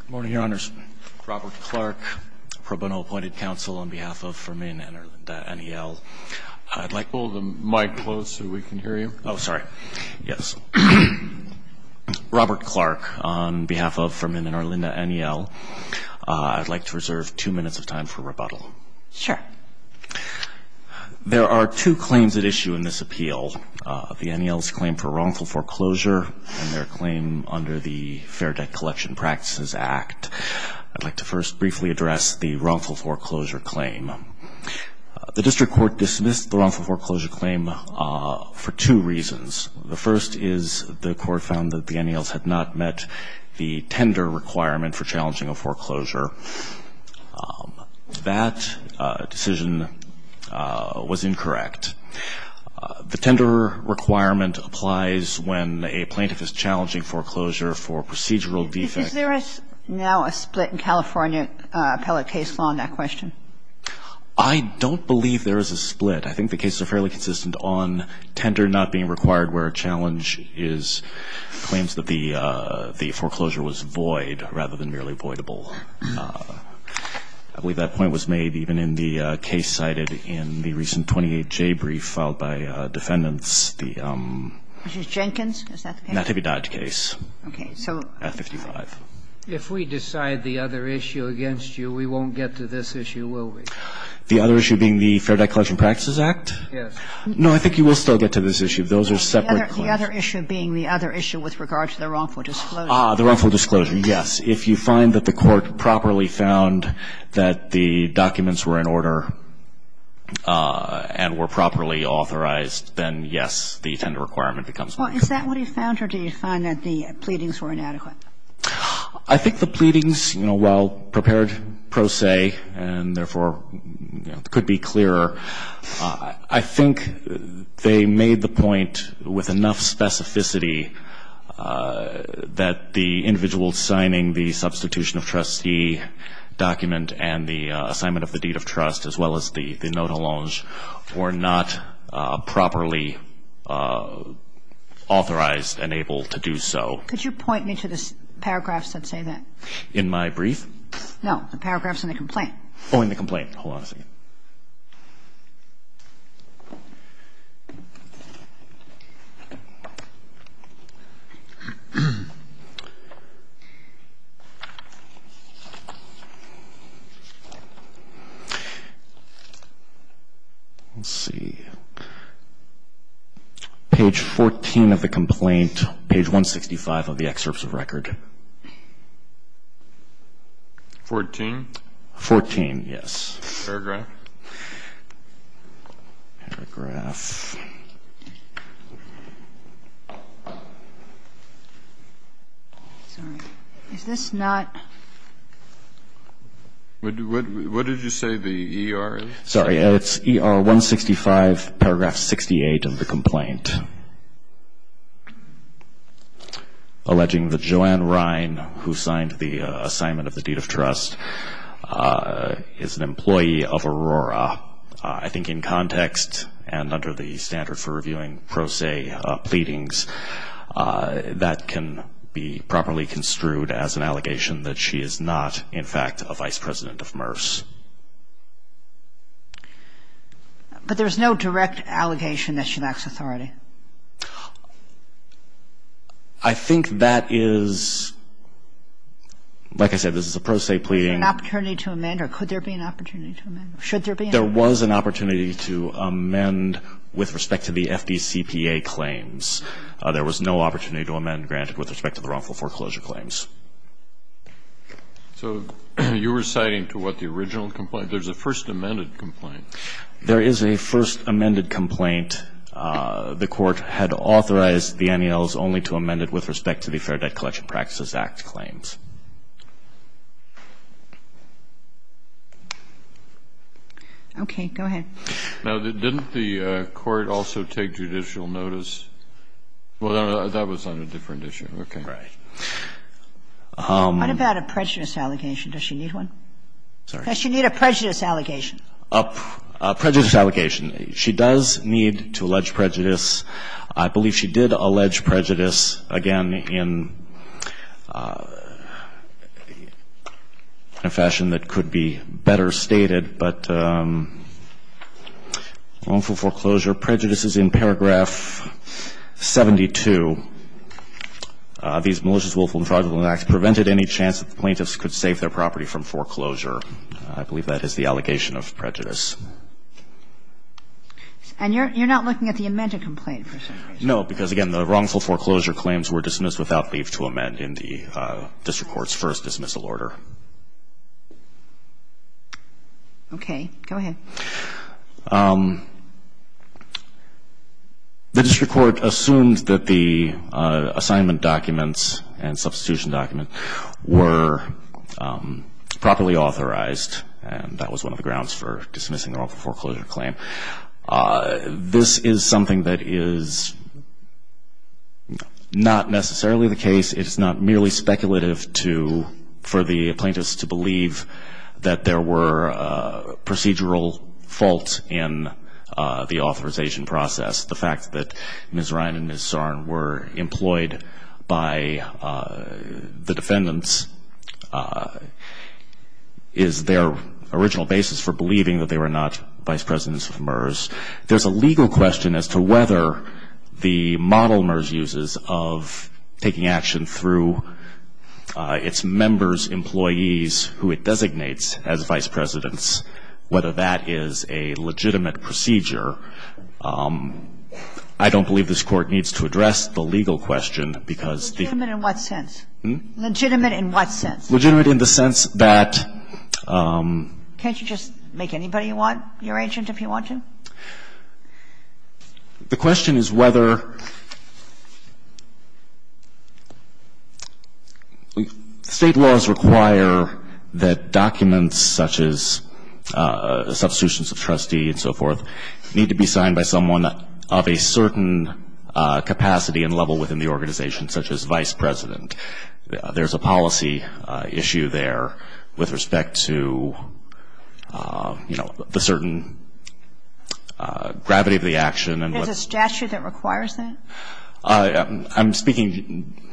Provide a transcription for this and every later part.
Good morning, Your Honors. Robert Clark, Pro Bono Appointed Counsel on behalf of Fermin and Arlinda Aniel. I'd like to reserve two minutes of time for rebuttal. Sure. There are two claims at issue in this appeal. The Aniels claim for wrongful foreclosure and their claim under the Fair Debt Collection Practices Act. I'd like to first briefly address the wrongful foreclosure claim. The district court dismissed the wrongful foreclosure claim for two reasons. The first is the court found that the Aniels had not met the tender requirement for challenging a foreclosure. That decision was incorrect. The tender requirement applies when a plaintiff is challenging foreclosure for procedural defects. Is there now a split in California appellate case law on that question? I don't believe there is a split. I think the cases are fairly consistent on tender not being required where a challenge is claims that the foreclosure was void rather than merely voidable. I believe that point was made even in the case cited in the recent 28J brief filed by defendants, the um. Which is Jenkins? Nativi Dodge case. Okay. At 55. If we decide the other issue against you, we won't get to this issue, will we? The other issue being the Fair Debt Collection Practices Act? Yes. No, I think you will still get to this issue. Those are separate claims. The other issue being the other issue with regard to the wrongful disclosure. Ah, the wrongful disclosure, yes. If you find that the court properly found that the documents were in order and were properly authorized, then, yes, the tender requirement becomes valid. Well, is that what he found, or did he find that the pleadings were inadequate? I think the pleadings, you know, while prepared pro se and, therefore, could be clearer, I think they made the point with enough specificity that the individual signing the substitution of trustee document and the assignment of the deed of trust, as well as the note allonge, were not properly authorized and able to do so. Could you point me to the paragraphs that say that? In my brief? No, the paragraphs in the complaint. Oh, in the complaint. Hold on a second. Let's see. Page 14 of the complaint, page 165 of the excerpts of record. Fourteen? Fourteen, yes. Paragraph? Paragraph. Sorry. Is this not? What did you say the ER is? Sorry. It's ER 165, paragraph 68 of the complaint, alleging that Joanne Rine, who signed the assignment of the deed of trust, is an employee of Aurora. I think in context and under the standard for reviewing pro se pleadings, that can be properly construed as an allegation that she is not, in fact, a vice president of MERS. But there's no direct allegation that she lacks authority. I think that is, like I said, this is a pro se pleading. Is there an opportunity to amend, or could there be an opportunity to amend? Should there be an opportunity? There was an opportunity to amend with respect to the FDCPA claims. There was no opportunity to amend granted with respect to the wrongful foreclosure claims. So you're reciting to what the original complaint? There's a first amended complaint. There is a first amended complaint. The Court had authorized the NALs only to amend it with respect to the Fair Debt Collection Practices Act claims. Okay. Go ahead. Now, didn't the Court also take judicial notice? Well, that was on a different issue. Okay. Right. What about a prejudice allegation? Does she need one? Sorry? Does she need a prejudice allegation? She does need to allege prejudice. I believe she did allege prejudice, again, in a fashion that could be better stated, but wrongful foreclosure prejudices in paragraph 72. These malicious, willful, and fraudulent acts prevented any chance that the plaintiffs could save their property from foreclosure. I believe that is the allegation of prejudice. And you're not looking at the amended complaint? No, because, again, the wrongful foreclosure claims were dismissed without leave to amend in the district court's first dismissal order. Okay. Go ahead. The district court assumed that the assignment documents and substitution documents were properly authorized, and that was one of the grounds for dismissing the wrongful foreclosure claim. This is something that is not necessarily the case. It's not merely speculative for the plaintiffs to believe that there were procedural faults in the authorization process. The fact that Ms. Ryan and Ms. Zarn were employed by the defendants is their original basis for believing that they were not vice presidents of MERS. There's a legal question as to whether the model MERS uses of taking action through its members, who it designates as vice presidents, whether that is a legitimate procedure. I don't believe this Court needs to address the legal question, because the ---- Legitimate in what sense? Hmm? Legitimate in what sense? Legitimate in the sense that ---- Can't you just make anybody you want your agent if you want to? The question is whether state laws require that documents such as substitutions of trustee and so forth need to be signed by someone of a certain capacity and level within the organization, such as vice president. There's a policy issue there with respect to, you know, the certain gravity of the action and what ---- There's a statute that requires that? I'm speaking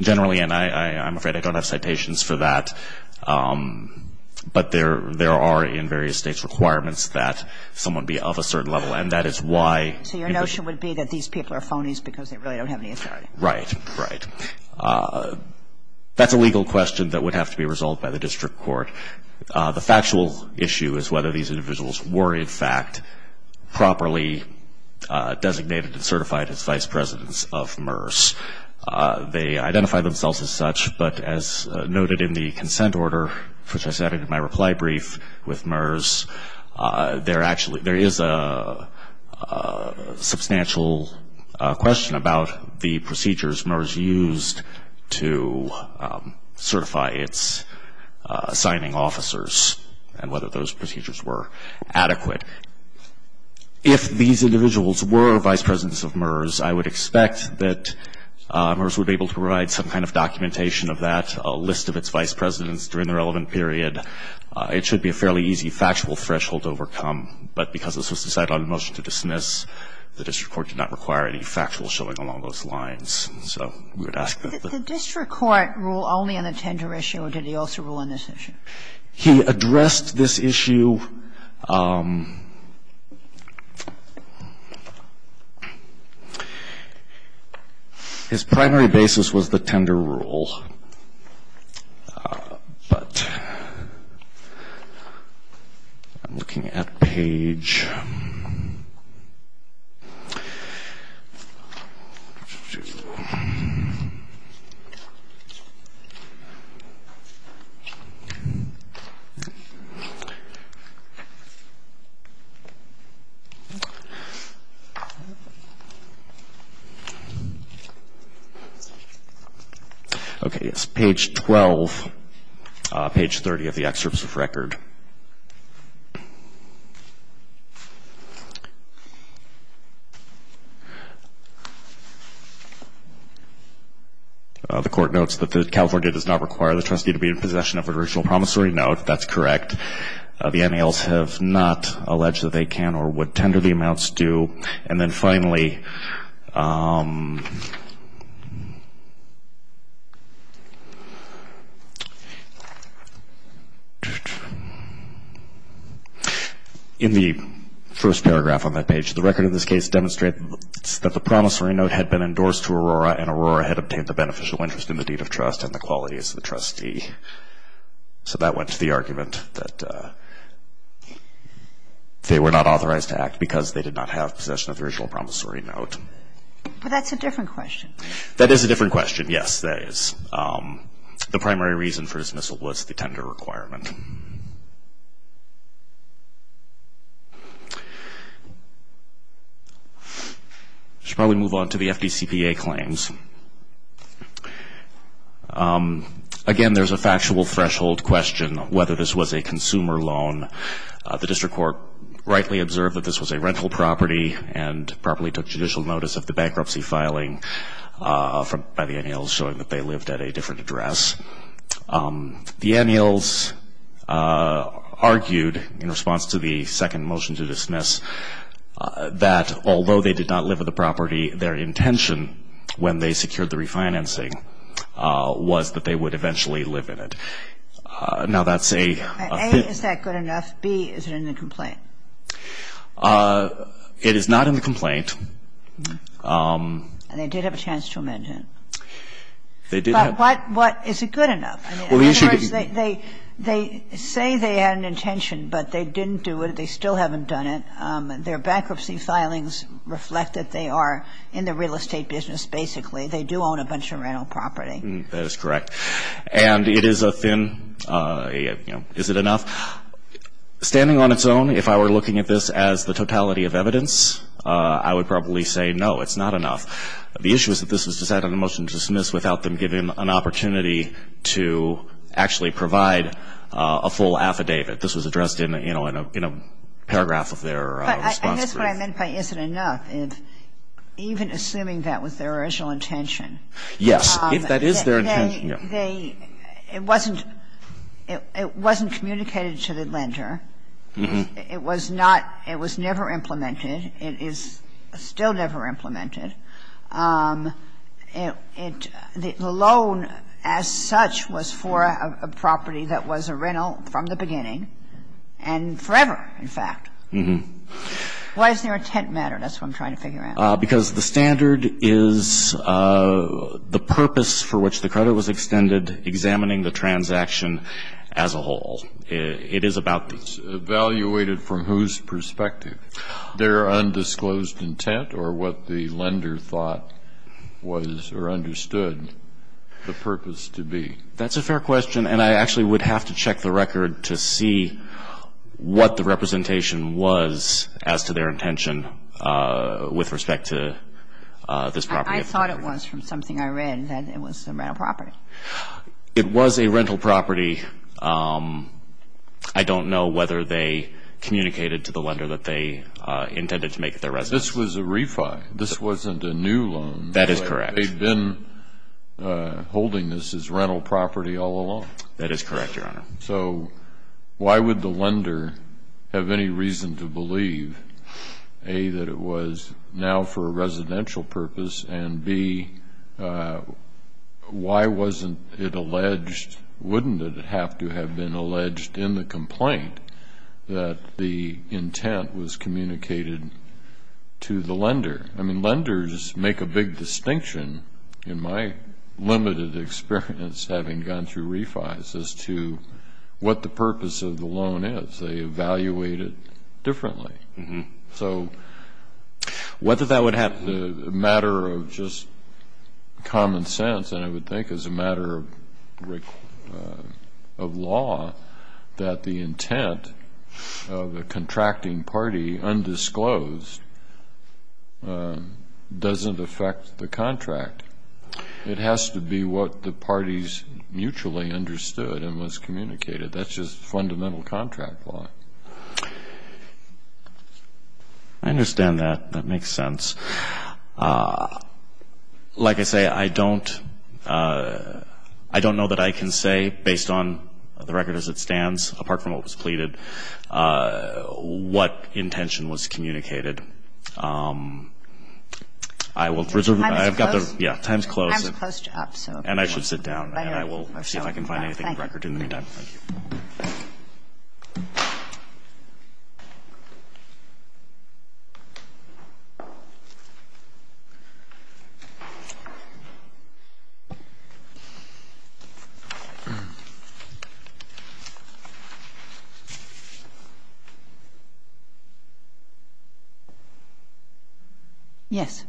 generally, and I'm afraid I don't have citations for that, but there are in various states requirements that someone be of a certain level, and that is why ---- So your notion would be that these people are phonies because they really don't have any authority. Right. That's a legal question that would have to be resolved by the district court. The factual issue is whether these individuals were, in fact, properly designated and certified as vice presidents of MERS. They identify themselves as such, but as noted in the consent order, which I cited in my reply brief with MERS, there is a substantial question about the procedures MERS used to certify its assigning officers and whether those procedures were adequate. If these individuals were vice presidents of MERS, I would expect that MERS would be able to provide some kind of documentation of that, a list of its vice presidents during the relevant period. It should be a fairly easy factual threshold to overcome. But because this was decided on a motion to dismiss, the district court did not require any factual showing along those lines. So we would ask that the ---- The district court ruled only on the tender issue, or did he also rule on this issue? He addressed this issue. His primary basis was the tender rule. But I'm looking at page ---- Okay, it's page 12, page 30 of the excerpts of record. The court notes that California does not require the trustee to be in possession of an original promissory note. That's correct. The NALs have not alleged that they can or would tender the amounts due. And then finally ---- In the first paragraph on that page, the record of this case demonstrates that the promissory note had been endorsed to Aurora and Aurora had obtained the beneficial interest in the deed of trust and the qualities of the trustee. So that went to the argument that they were not authorized to act because they did not have possession of the original promissory note. But that's a different question. That is a different question, yes, that is. The primary reason for dismissal was the tender requirement. I should probably move on to the FDCPA claims. Again, there's a factual threshold question whether this was a consumer loan. The district court rightly observed that this was a rental property and properly took judicial notice of the bankruptcy filing by the NALs, showing that they lived at a different address. The NALs argued in response to the second motion to dismiss that although they did not live at the property, their intention when they secured the refinancing was that they would eventually live in it. Now, that's a ---- And A, is that good enough? B, is it in the complaint? It is not in the complaint. And they did have a chance to amend it. They did have ---- But what is it good enough? Well, the issue ---- In other words, they say they had an intention, but they didn't do it. They still haven't done it. Their bankruptcy filings reflect that they are in the real estate business, basically. They do own a bunch of rental property. That is correct. And it is a thin, you know, is it enough? Standing on its own, if I were looking at this as the totality of evidence, I would probably say no, it's not enough. The issue is that this was decided on a motion to dismiss without them giving an opportunity to actually provide a full affidavit. This was addressed in a paragraph of their response brief. But I guess what I meant by is it enough, even assuming that was their original intention. Yes. If that is their intention, yes. It wasn't communicated to the lender. It was not ---- it was never implemented. It is still never implemented. The loan as such was for a property that was a rental from the beginning and forever, in fact. Why is there a tent matter? That's what I'm trying to figure out. Because the standard is the purpose for which the credit was extended examining the transaction as a whole. It is about the ---- It's evaluated from whose perspective? Their undisclosed intent or what the lender thought was or understood the purpose to be. That's a fair question. And I actually would have to check the record to see what the representation was as to their intention with respect to this property. I thought it was from something I read that it was a rental property. It was a rental property. I don't know whether they communicated to the lender that they intended to make it their residence. This was a refi. This wasn't a new loan. That is correct. They'd been holding this as rental property all along. That is correct, Your Honor. So why would the lender have any reason to believe, A, that it was now for a residential purpose, and, B, why wasn't it alleged? Wouldn't it have to have been alleged in the complaint that the intent was communicated to the lender? I mean, lenders make a big distinction, in my limited experience having gone through refis, as to what the purpose of the loan is. They evaluate it differently. So whether that would have the matter of just common sense, and I would think as a matter of law that the intent of a contracting party undisclosed doesn't affect the contract. It has to be what the parties mutually understood and was communicated. That's just fundamental contract law. I understand that. That makes sense. Like I say, I don't know that I can say, based on the record as it stands, apart from what was pleaded, what intention was communicated. I will reserve my time. Time is close. Yeah, time is close. Time is close to up. And I should sit down, and I will see if I can find anything to record in the meantime. Thank you. Yes,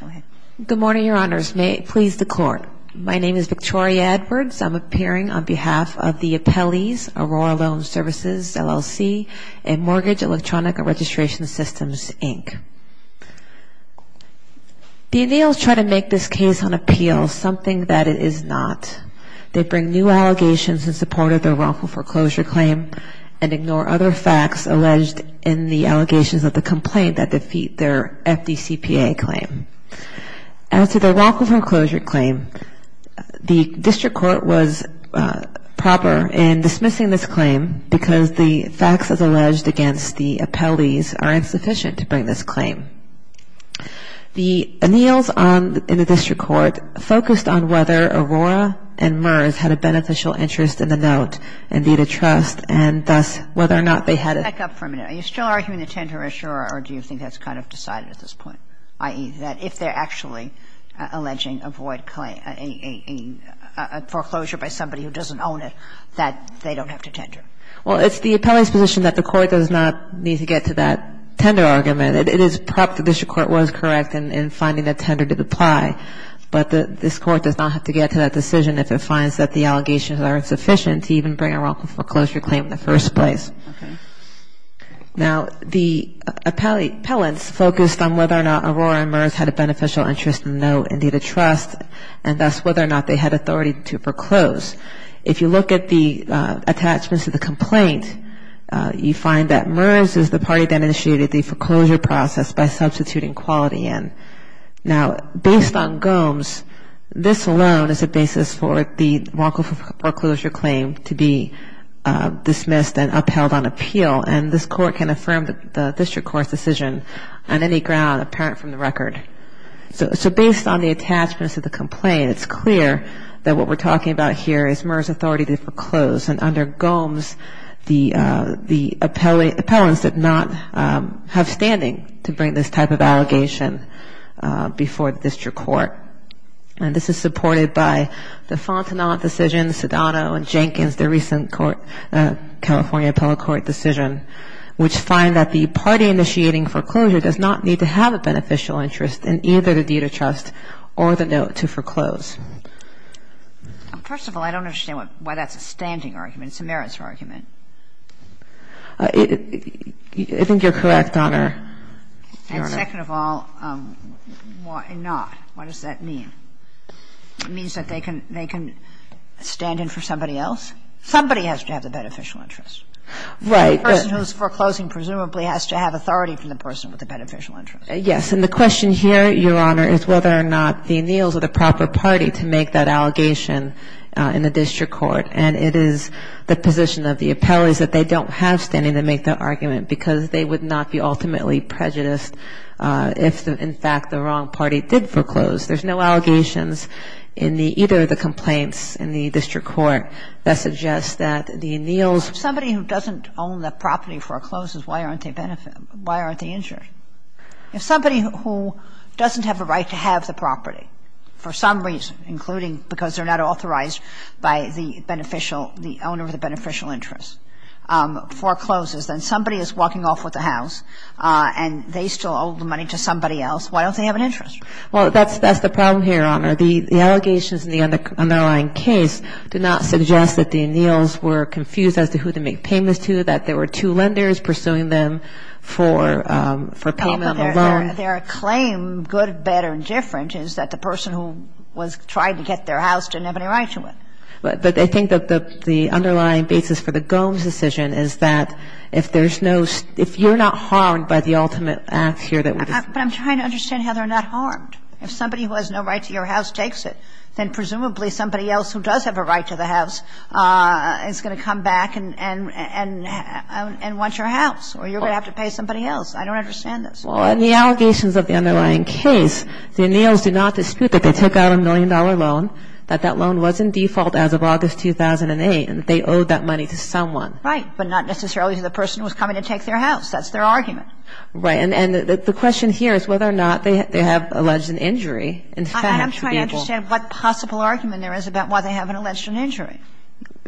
go ahead. Good morning, Your Honors. May it please the Court. My name is Victoria Edwards. I'm appearing on behalf of the Appellees, Aurora Loan Services, LLC, and Mortgage Electronic Registration Systems, Inc. The anneals try to make this case on appeal something that it is not. They bring new allegations in support of their wrongful foreclosure claim and ignore other facts alleged in the allegations of the complaint that defeat their FDCPA claim. As to their wrongful foreclosure claim, the district court was proper in dismissing this claim because the facts as alleged against the appellees are insufficient to bring this claim. The anneals in the district court focused on whether Aurora and MERS had a beneficial interest in the note and need a trust, and thus whether or not they had a ---- Back up for a minute. Are you still arguing the tender issue, or do you think that's kind of decided at this point, i.e., that if they're actually alleging a void claim, a foreclosure by somebody who doesn't own it, that they don't have to tender? Well, it's the appellee's position that the court does not need to get to that tender argument. It is perhaps the district court was correct in finding that tender did apply, but this Court does not have to get to that decision if it finds that the allegations are insufficient to even bring a wrongful foreclosure claim in the first place. Okay. Now, the appellants focused on whether or not Aurora and MERS had a beneficial interest in the note and need a trust, and thus whether or not they had authority to foreclose. If you look at the attachments of the complaint, you find that MERS is the party that initiated the foreclosure process by substituting quality in. Now, based on Gomes, this alone is a basis for the wrongful foreclosure claim to be filed on appeal, and this Court can affirm the district court's decision on any ground apparent from the record. So based on the attachments of the complaint, it's clear that what we're talking about here is MERS authority to foreclose, and under Gomes, the appellants did not have standing to bring this type of allegation before the district court. And this is supported by the Fontenot decision, Sedano and Jenkins, their recent California appellate court decision, which find that the party initiating foreclosure does not need to have a beneficial interest in either the deed of trust or the note to foreclose. First of all, I don't understand why that's a standing argument. It's a merits argument. I think you're correct, Your Honor. And second of all, why not? What does that mean? It means that they can stand in for somebody else? Somebody has to have the beneficial interest. Right. The person who's foreclosing presumably has to have authority from the person with the beneficial interest. Yes. And the question here, Your Honor, is whether or not the anneals are the proper party to make that allegation in the district court. And it is the position of the appellates that they don't have standing to make that argument, because they would not be ultimately prejudiced if, in fact, the wrong party did foreclose. There's no allegations in either of the complaints in the district court. That suggests that the anneals If somebody who doesn't own the property forecloses, why aren't they benefit why aren't they injured? If somebody who doesn't have a right to have the property for some reason, including because they're not authorized by the beneficial the owner of the beneficial interest, forecloses, then somebody is walking off with the house and they still owe the money to somebody else. Why don't they have an interest? Well, that's the problem here, Your Honor. The allegations in the underlying case do not suggest that the anneals were confused as to who to make payments to, that there were two lenders pursuing them for payment on the loan. Their claim, good, better, and different, is that the person who was trying to get their house didn't have any right to it. But I think that the underlying basis for the Gomes decision is that if there's no, if you're not harmed by the ultimate act here that would I'm trying to understand how they're not harmed. If somebody who has no right to your house takes it, then presumably somebody else who does have a right to the house is going to come back and want your house or you're going to have to pay somebody else. I don't understand this. Well, in the allegations of the underlying case, the anneals do not dispute that they took out a million-dollar loan, that that loan was in default as of August 2008, and they owed that money to someone. Right. But not necessarily to the person who was coming to take their house. That's their argument. Right. And the question here is whether or not they have alleged an injury. In fact, the people I'm trying to understand what possible argument there is about why they have an alleged an injury.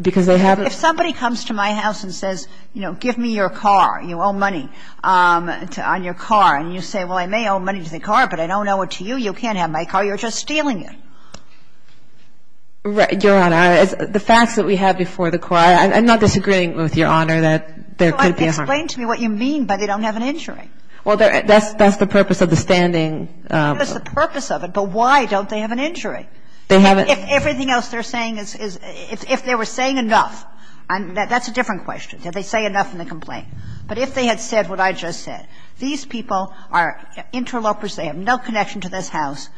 Because they have If somebody comes to my house and says, you know, give me your car, you owe money on your car. And you say, well, I may owe money to the car, but I don't owe it to you. You can't have my car. You're just stealing it. Right. Your Honor, the facts that we have before the court, I'm not disagreeing with Your Honor that there could be a There could be a Well, that's the purpose of the standing That's the purpose of it. But why don't they have an injury? They haven't If everything else they're saying is – if they were saying enough, that's a different question. Did they say enough in the complaint? But if they had said what I just said, these people are interlopers. They have no connection to this house.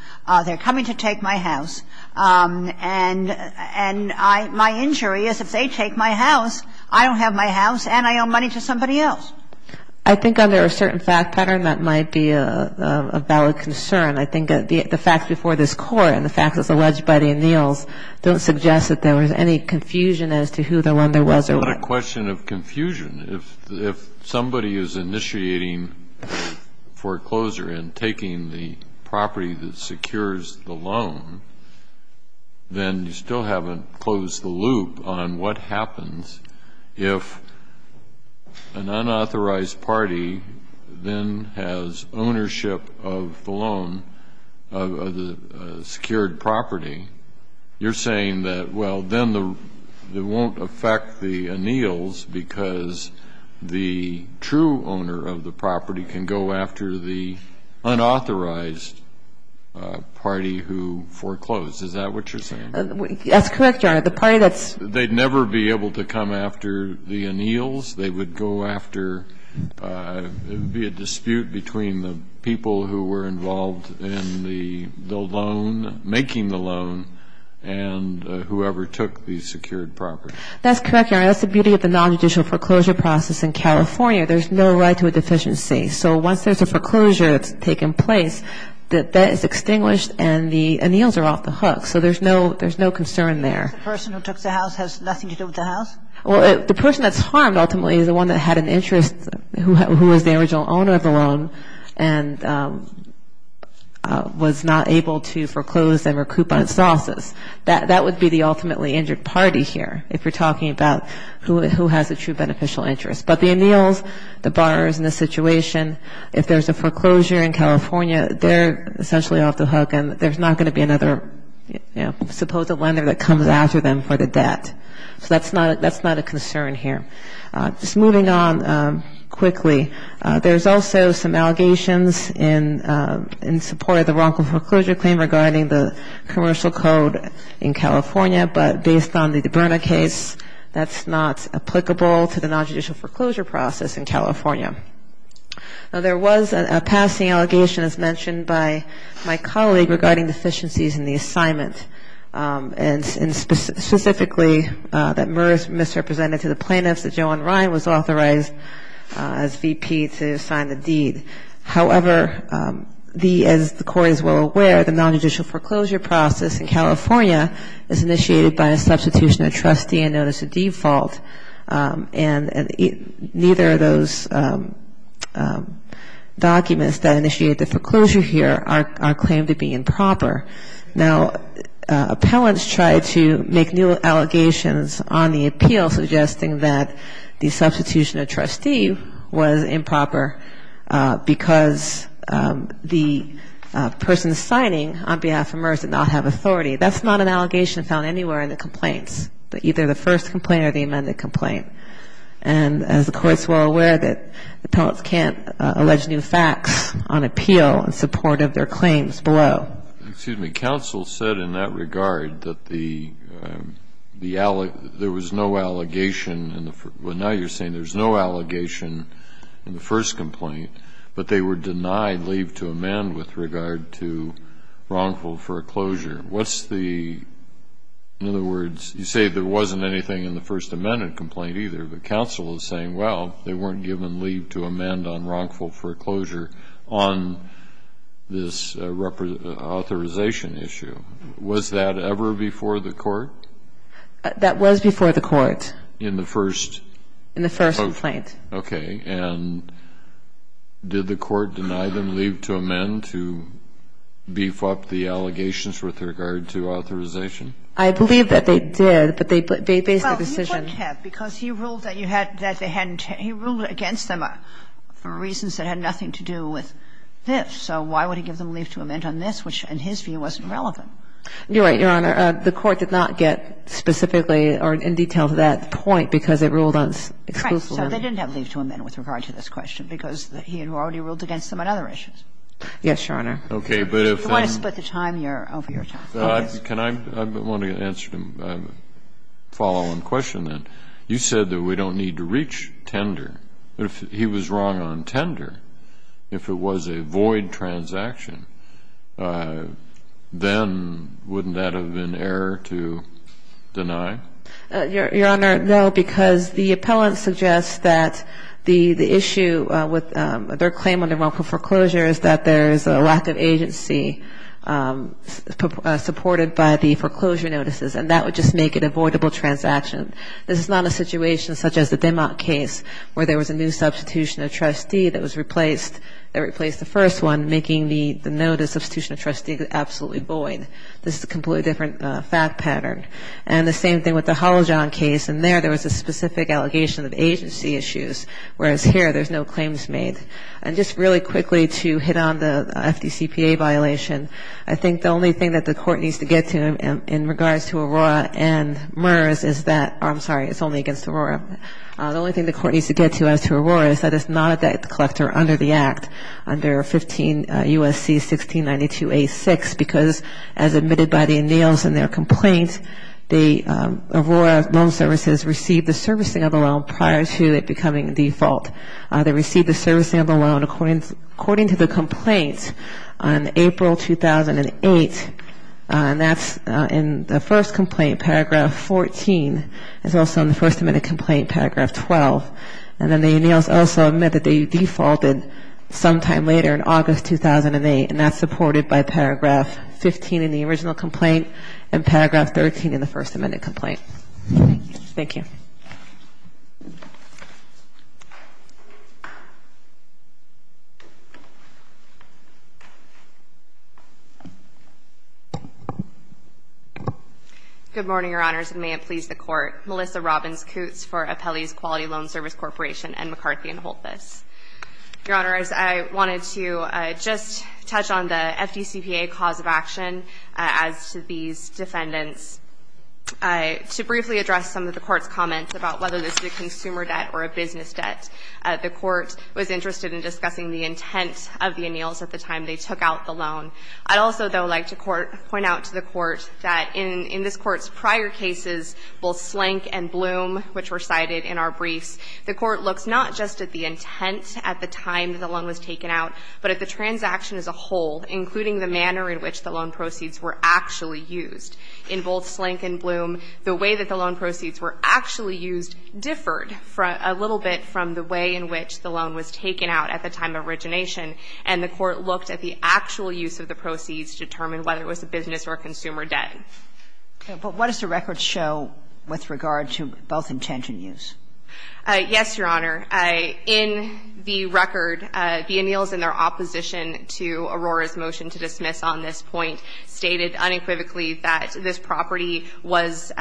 They're coming to take my house. And my injury is if they take my house, I don't have my house and I owe money to somebody else. I think under a certain fact pattern, that might be a valid concern. I think the facts before this Court and the facts that's alleged by the Anneals don't suggest that there was any confusion as to who the lender was or what Well, it's not a question of confusion. If somebody is initiating foreclosure and taking the property that secures the loan, then you still haven't closed the loop on what happens if an unauthorized party then has ownership of the loan, of the secured property. You're saying that, well, then it won't affect the Anneals because the true owner of the property can go after the unauthorized party who foreclosed. Is that what you're saying? That's correct, Your Honor. The party that's They'd never be able to come after the Anneals. They would go after, it would be a dispute between the people who were involved in the loan, making the loan, and whoever took the secured property. That's correct, Your Honor. That's the beauty of the nonjudicial foreclosure process in California. There's no right to a deficiency. So once there's a foreclosure that's taken place, the debt is extinguished and the Anneals are off the hook. So there's no concern there. The person who took the house has nothing to do with the house? Well, the person that's harmed ultimately is the one that had an interest, who was the original owner of the loan and was not able to foreclose and recoup on its losses. That would be the ultimately injured party here, if we're talking about who has a true beneficial interest. But the Anneals, the borrowers in this situation, if there's a foreclosure in California, they're essentially off the hook and there's not going to be another, you know, supposed lender that comes after them for the debt. So that's not a concern here. Just moving on quickly, there's also some allegations in support of the wrongful foreclosure claim regarding the commercial code in California, but based on the DiBerna case, that's not applicable to the nonjudicial foreclosure process in California. Now, there was a passing allegation, as mentioned by my colleague, regarding deficiencies in the assignment, and specifically that MERS misrepresented to the plaintiffs that Joan Ryan was authorized as VP to sign the deed. However, as the Court is well aware, the nonjudicial foreclosure process in California is initiated by a substitution of trustee and notice of default, and neither of those documents that initiate the foreclosure here are claimed to be improper. Now, appellants tried to make new allegations on the appeal suggesting that the substitution of trustee was improper because the person signing on behalf of MERS did not have authority. That's not an allegation found anywhere in the complaints, either the first complaint or the amended complaint. And as the Court is well aware, appellants can't allege new facts on appeal in support of their claims below. Excuse me. Counsel said in that regard that there was no allegation in the first complaint, but they were denied leave to amend with regard to wrongful foreclosure. What's the, in other words, you say there wasn't anything in the first amended complaint either, but counsel is saying, well, they weren't given leave to amend on wrongful foreclosure on this authorization issue. Was that ever before the Court? That was before the Court. In the first? In the first complaint. Okay. And did the Court deny them leave to amend to beef up the allegations with regard to authorization? I believe that they did, but they based the decision. Well, he didn't have, because he ruled that you had, that they hadn't, he ruled against them for reasons that had nothing to do with this. So why would he give them leave to amend on this, which in his view wasn't relevant? You're right, Your Honor. The Court did not get specifically or in detail to that point because it ruled on exclusively. So they didn't have leave to amend with regard to this question because he had already ruled against them on other issues. Yes, Your Honor. Okay. But if you want to split the time, you're over your time. Can I, I want to answer a follow-on question then. You said that we don't need to reach tender. If he was wrong on tender, if it was a void transaction, then wouldn't that have been error to deny? Your Honor, no, because the appellant suggests that the issue with their claim on the wrongful foreclosure is that there is a lack of agency supported by the foreclosure notices, and that would just make it a voidable transaction. This is not a situation such as the Denmark case where there was a new substitution of trustee that was replaced, they replaced the first one, making the notice of substitution of trustee absolutely void. This is a completely different fact pattern. And the same thing with the Halijon case, and there, there was a specific allegation of agency issues, whereas here, there's no claims made. And just really quickly to hit on the FDCPA violation, I think the only thing that the court needs to get to in regards to Aurora and MERS is that, I'm sorry, it's only against Aurora, the only thing the court needs to get to as to Aurora is that it's not a debt collector under the Act, under 15 U.S.C. 1692a6, because as admitted by the anneals in their complaint, the Aurora Loan Services received the servicing of the loan prior to it becoming a default. They received the servicing of the loan according to the complaint on April 2008, and that's in the first complaint, paragraph 14. It's also in the first admitted complaint, paragraph 12. And then the anneals also admit that they defaulted sometime later in August 2008, and that's supported by paragraph 15 in the original complaint and paragraph 13 in the first amended complaint. Thank you. Good morning, Your Honors, and may it please the Court. Melissa Robbins, Coots for Apelles Quality Loan Service Corporation, and McCarthy and Holtvis. Your Honors, I wanted to just touch on the FDCPA cause of action as to these defendants. To briefly address some of the Court's comments about whether this is a consumer debt or a business debt, the Court was interested in discussing the intent of the anneals at the time they took out the loan. I'd also, though, like to point out to the Court that in this Court's prior cases, both Slank and Bloom, which were cited in our briefs, the Court looks not just at the intent at the time that the loan was taken out, but at the transaction as a whole, including the manner in which the loan proceeds were actually used. In both Slank and Bloom, the way that the loan proceeds were actually used differed a little bit from the way in which the loan was taken out at the time of origination, and the Court looked at the actual use of the proceeds to determine whether it was a business or a consumer debt. But what does the record show with regard to both intent and use? Yes, Your Honor. In the record, the anneals in their opposition to Aurora's motion to dismiss on this point stated unequivocally that this property was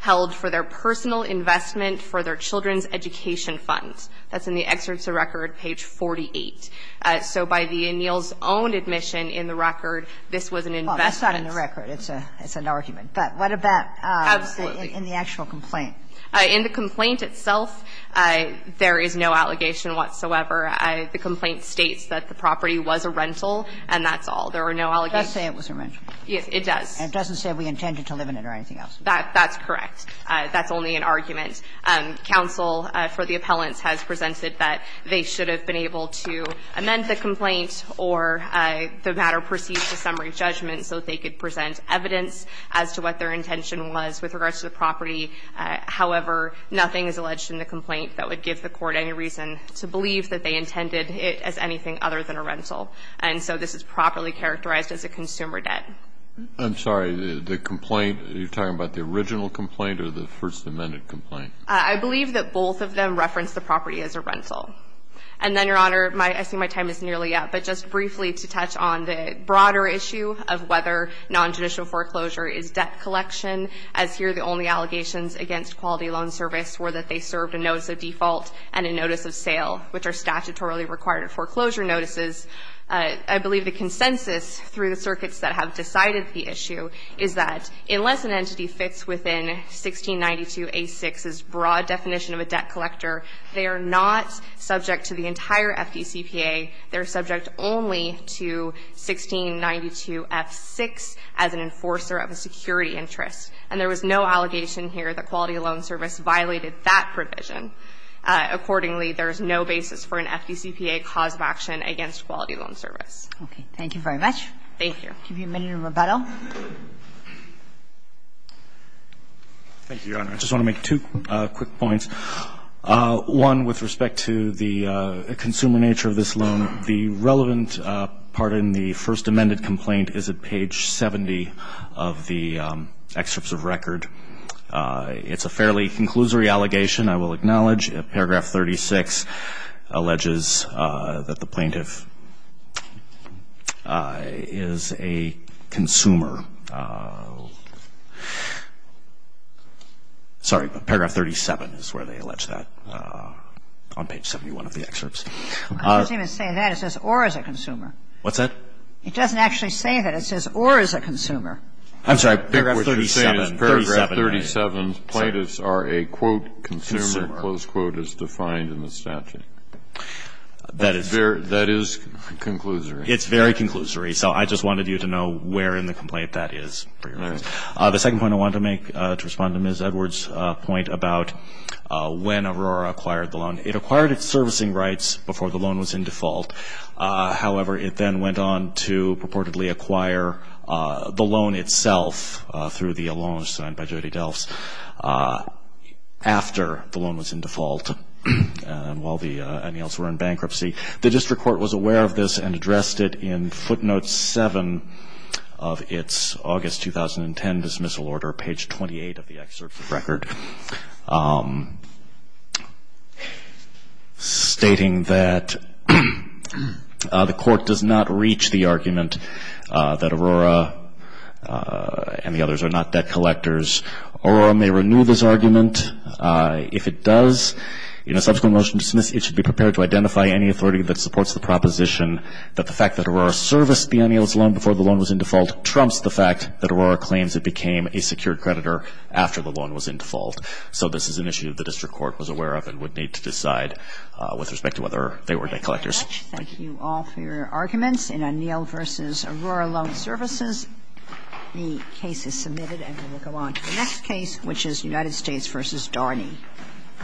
held for their personal investment for their children's education funds. That's in the excerpts of record, page 48. So by the anneals' own admission in the record, this was an investment. Well, that's not in the record. It's an argument. But what about in the actual complaint? In the complaint itself, there is no allegation whatsoever. The complaint states that the property was a rental, and that's all. There are no allegations. It does say it was a rental. Yes, it does. And it doesn't say we intended to live in it or anything else. That's correct. That's only an argument. Counsel for the appellants has presented that they should have been able to amend the complaint or the matter proceed to summary judgment so that they could present evidence as to what their intention was with regards to the property. However, nothing is alleged in the complaint that would give the Court any reason to believe that they intended it as anything other than a rental. And so this is properly characterized as a consumer debt. I'm sorry. The complaint, you're talking about the original complaint or the First Amendment complaint? I believe that both of them referenced the property as a rental. And then, Your Honor, I see my time is nearly up. But just briefly to touch on the broader issue of whether nonjudicial foreclosure is debt collection, as here the only allegations against Quality Loan Service were that they served a notice of default and a notice of sale, which are statutorily required foreclosure notices. I believe the consensus through the circuits that have decided the issue is that unless an entity fits within 1692A6's broad definition of a debt collector, they are not subject to the entire FDCPA. They are subject only to 1692F6 as an enforcer of a security interest. And there was no allegation here that Quality Loan Service violated that provision. Accordingly, there is no basis for an FDCPA cause of action against Quality Loan Service. Okay. Thank you very much. Thank you. Give you a minute of rebuttal. Thank you, Your Honor. I just want to make two quick points. One, with respect to the consumer nature of this loan, the relevant part in the first amended complaint is at page 70 of the excerpts of record. It's a fairly conclusory allegation, I will acknowledge. Paragraph 36 alleges that the plaintiff is a consumer. Sorry, paragraph 37 is where they allege that, on page 71 of the excerpts. It doesn't even say that. It says, or is a consumer. What's that? It doesn't actually say that. It says, or is a consumer. I'm sorry. Paragraph 37. Paragraph 37. Plaintiffs are a, quote, consumer, close quote, as defined in the statute. That is conclusory. It's very conclusory. So I just wanted you to know where in the complaint that is, for your reference. The second point I want to make, to respond to Ms. Edwards' point about when Aurora acquired the loan. It acquired its servicing rights before the loan was in default. However, it then went on to purportedly acquire the loan itself, through the loan signed by Jody Delphs, after the loan was in default, and while the annuals were in bankruptcy. The district court was aware of this and addressed it in footnote 7 of its August 2010 dismissal order, page 28 of the excerpt from the record. Stating that the court does not reach the argument that Aurora and the others are not debt collectors. Aurora may renew this argument. If it does, in a subsequent motion to dismiss, it should be prepared to identify any authority that supports the proposition that the fact that Aurora serviced the annuals loan before the loan was in default trumps the fact that Aurora claims it became a secured creditor after the loan was in default. So this is an issue the district court was aware of and would need to decide with respect to whether they were debt collectors. Thank you all for your arguments in Aniel v. Aurora Loan Services. The case is submitted and we will go on to the next case, which is United States v. Darney.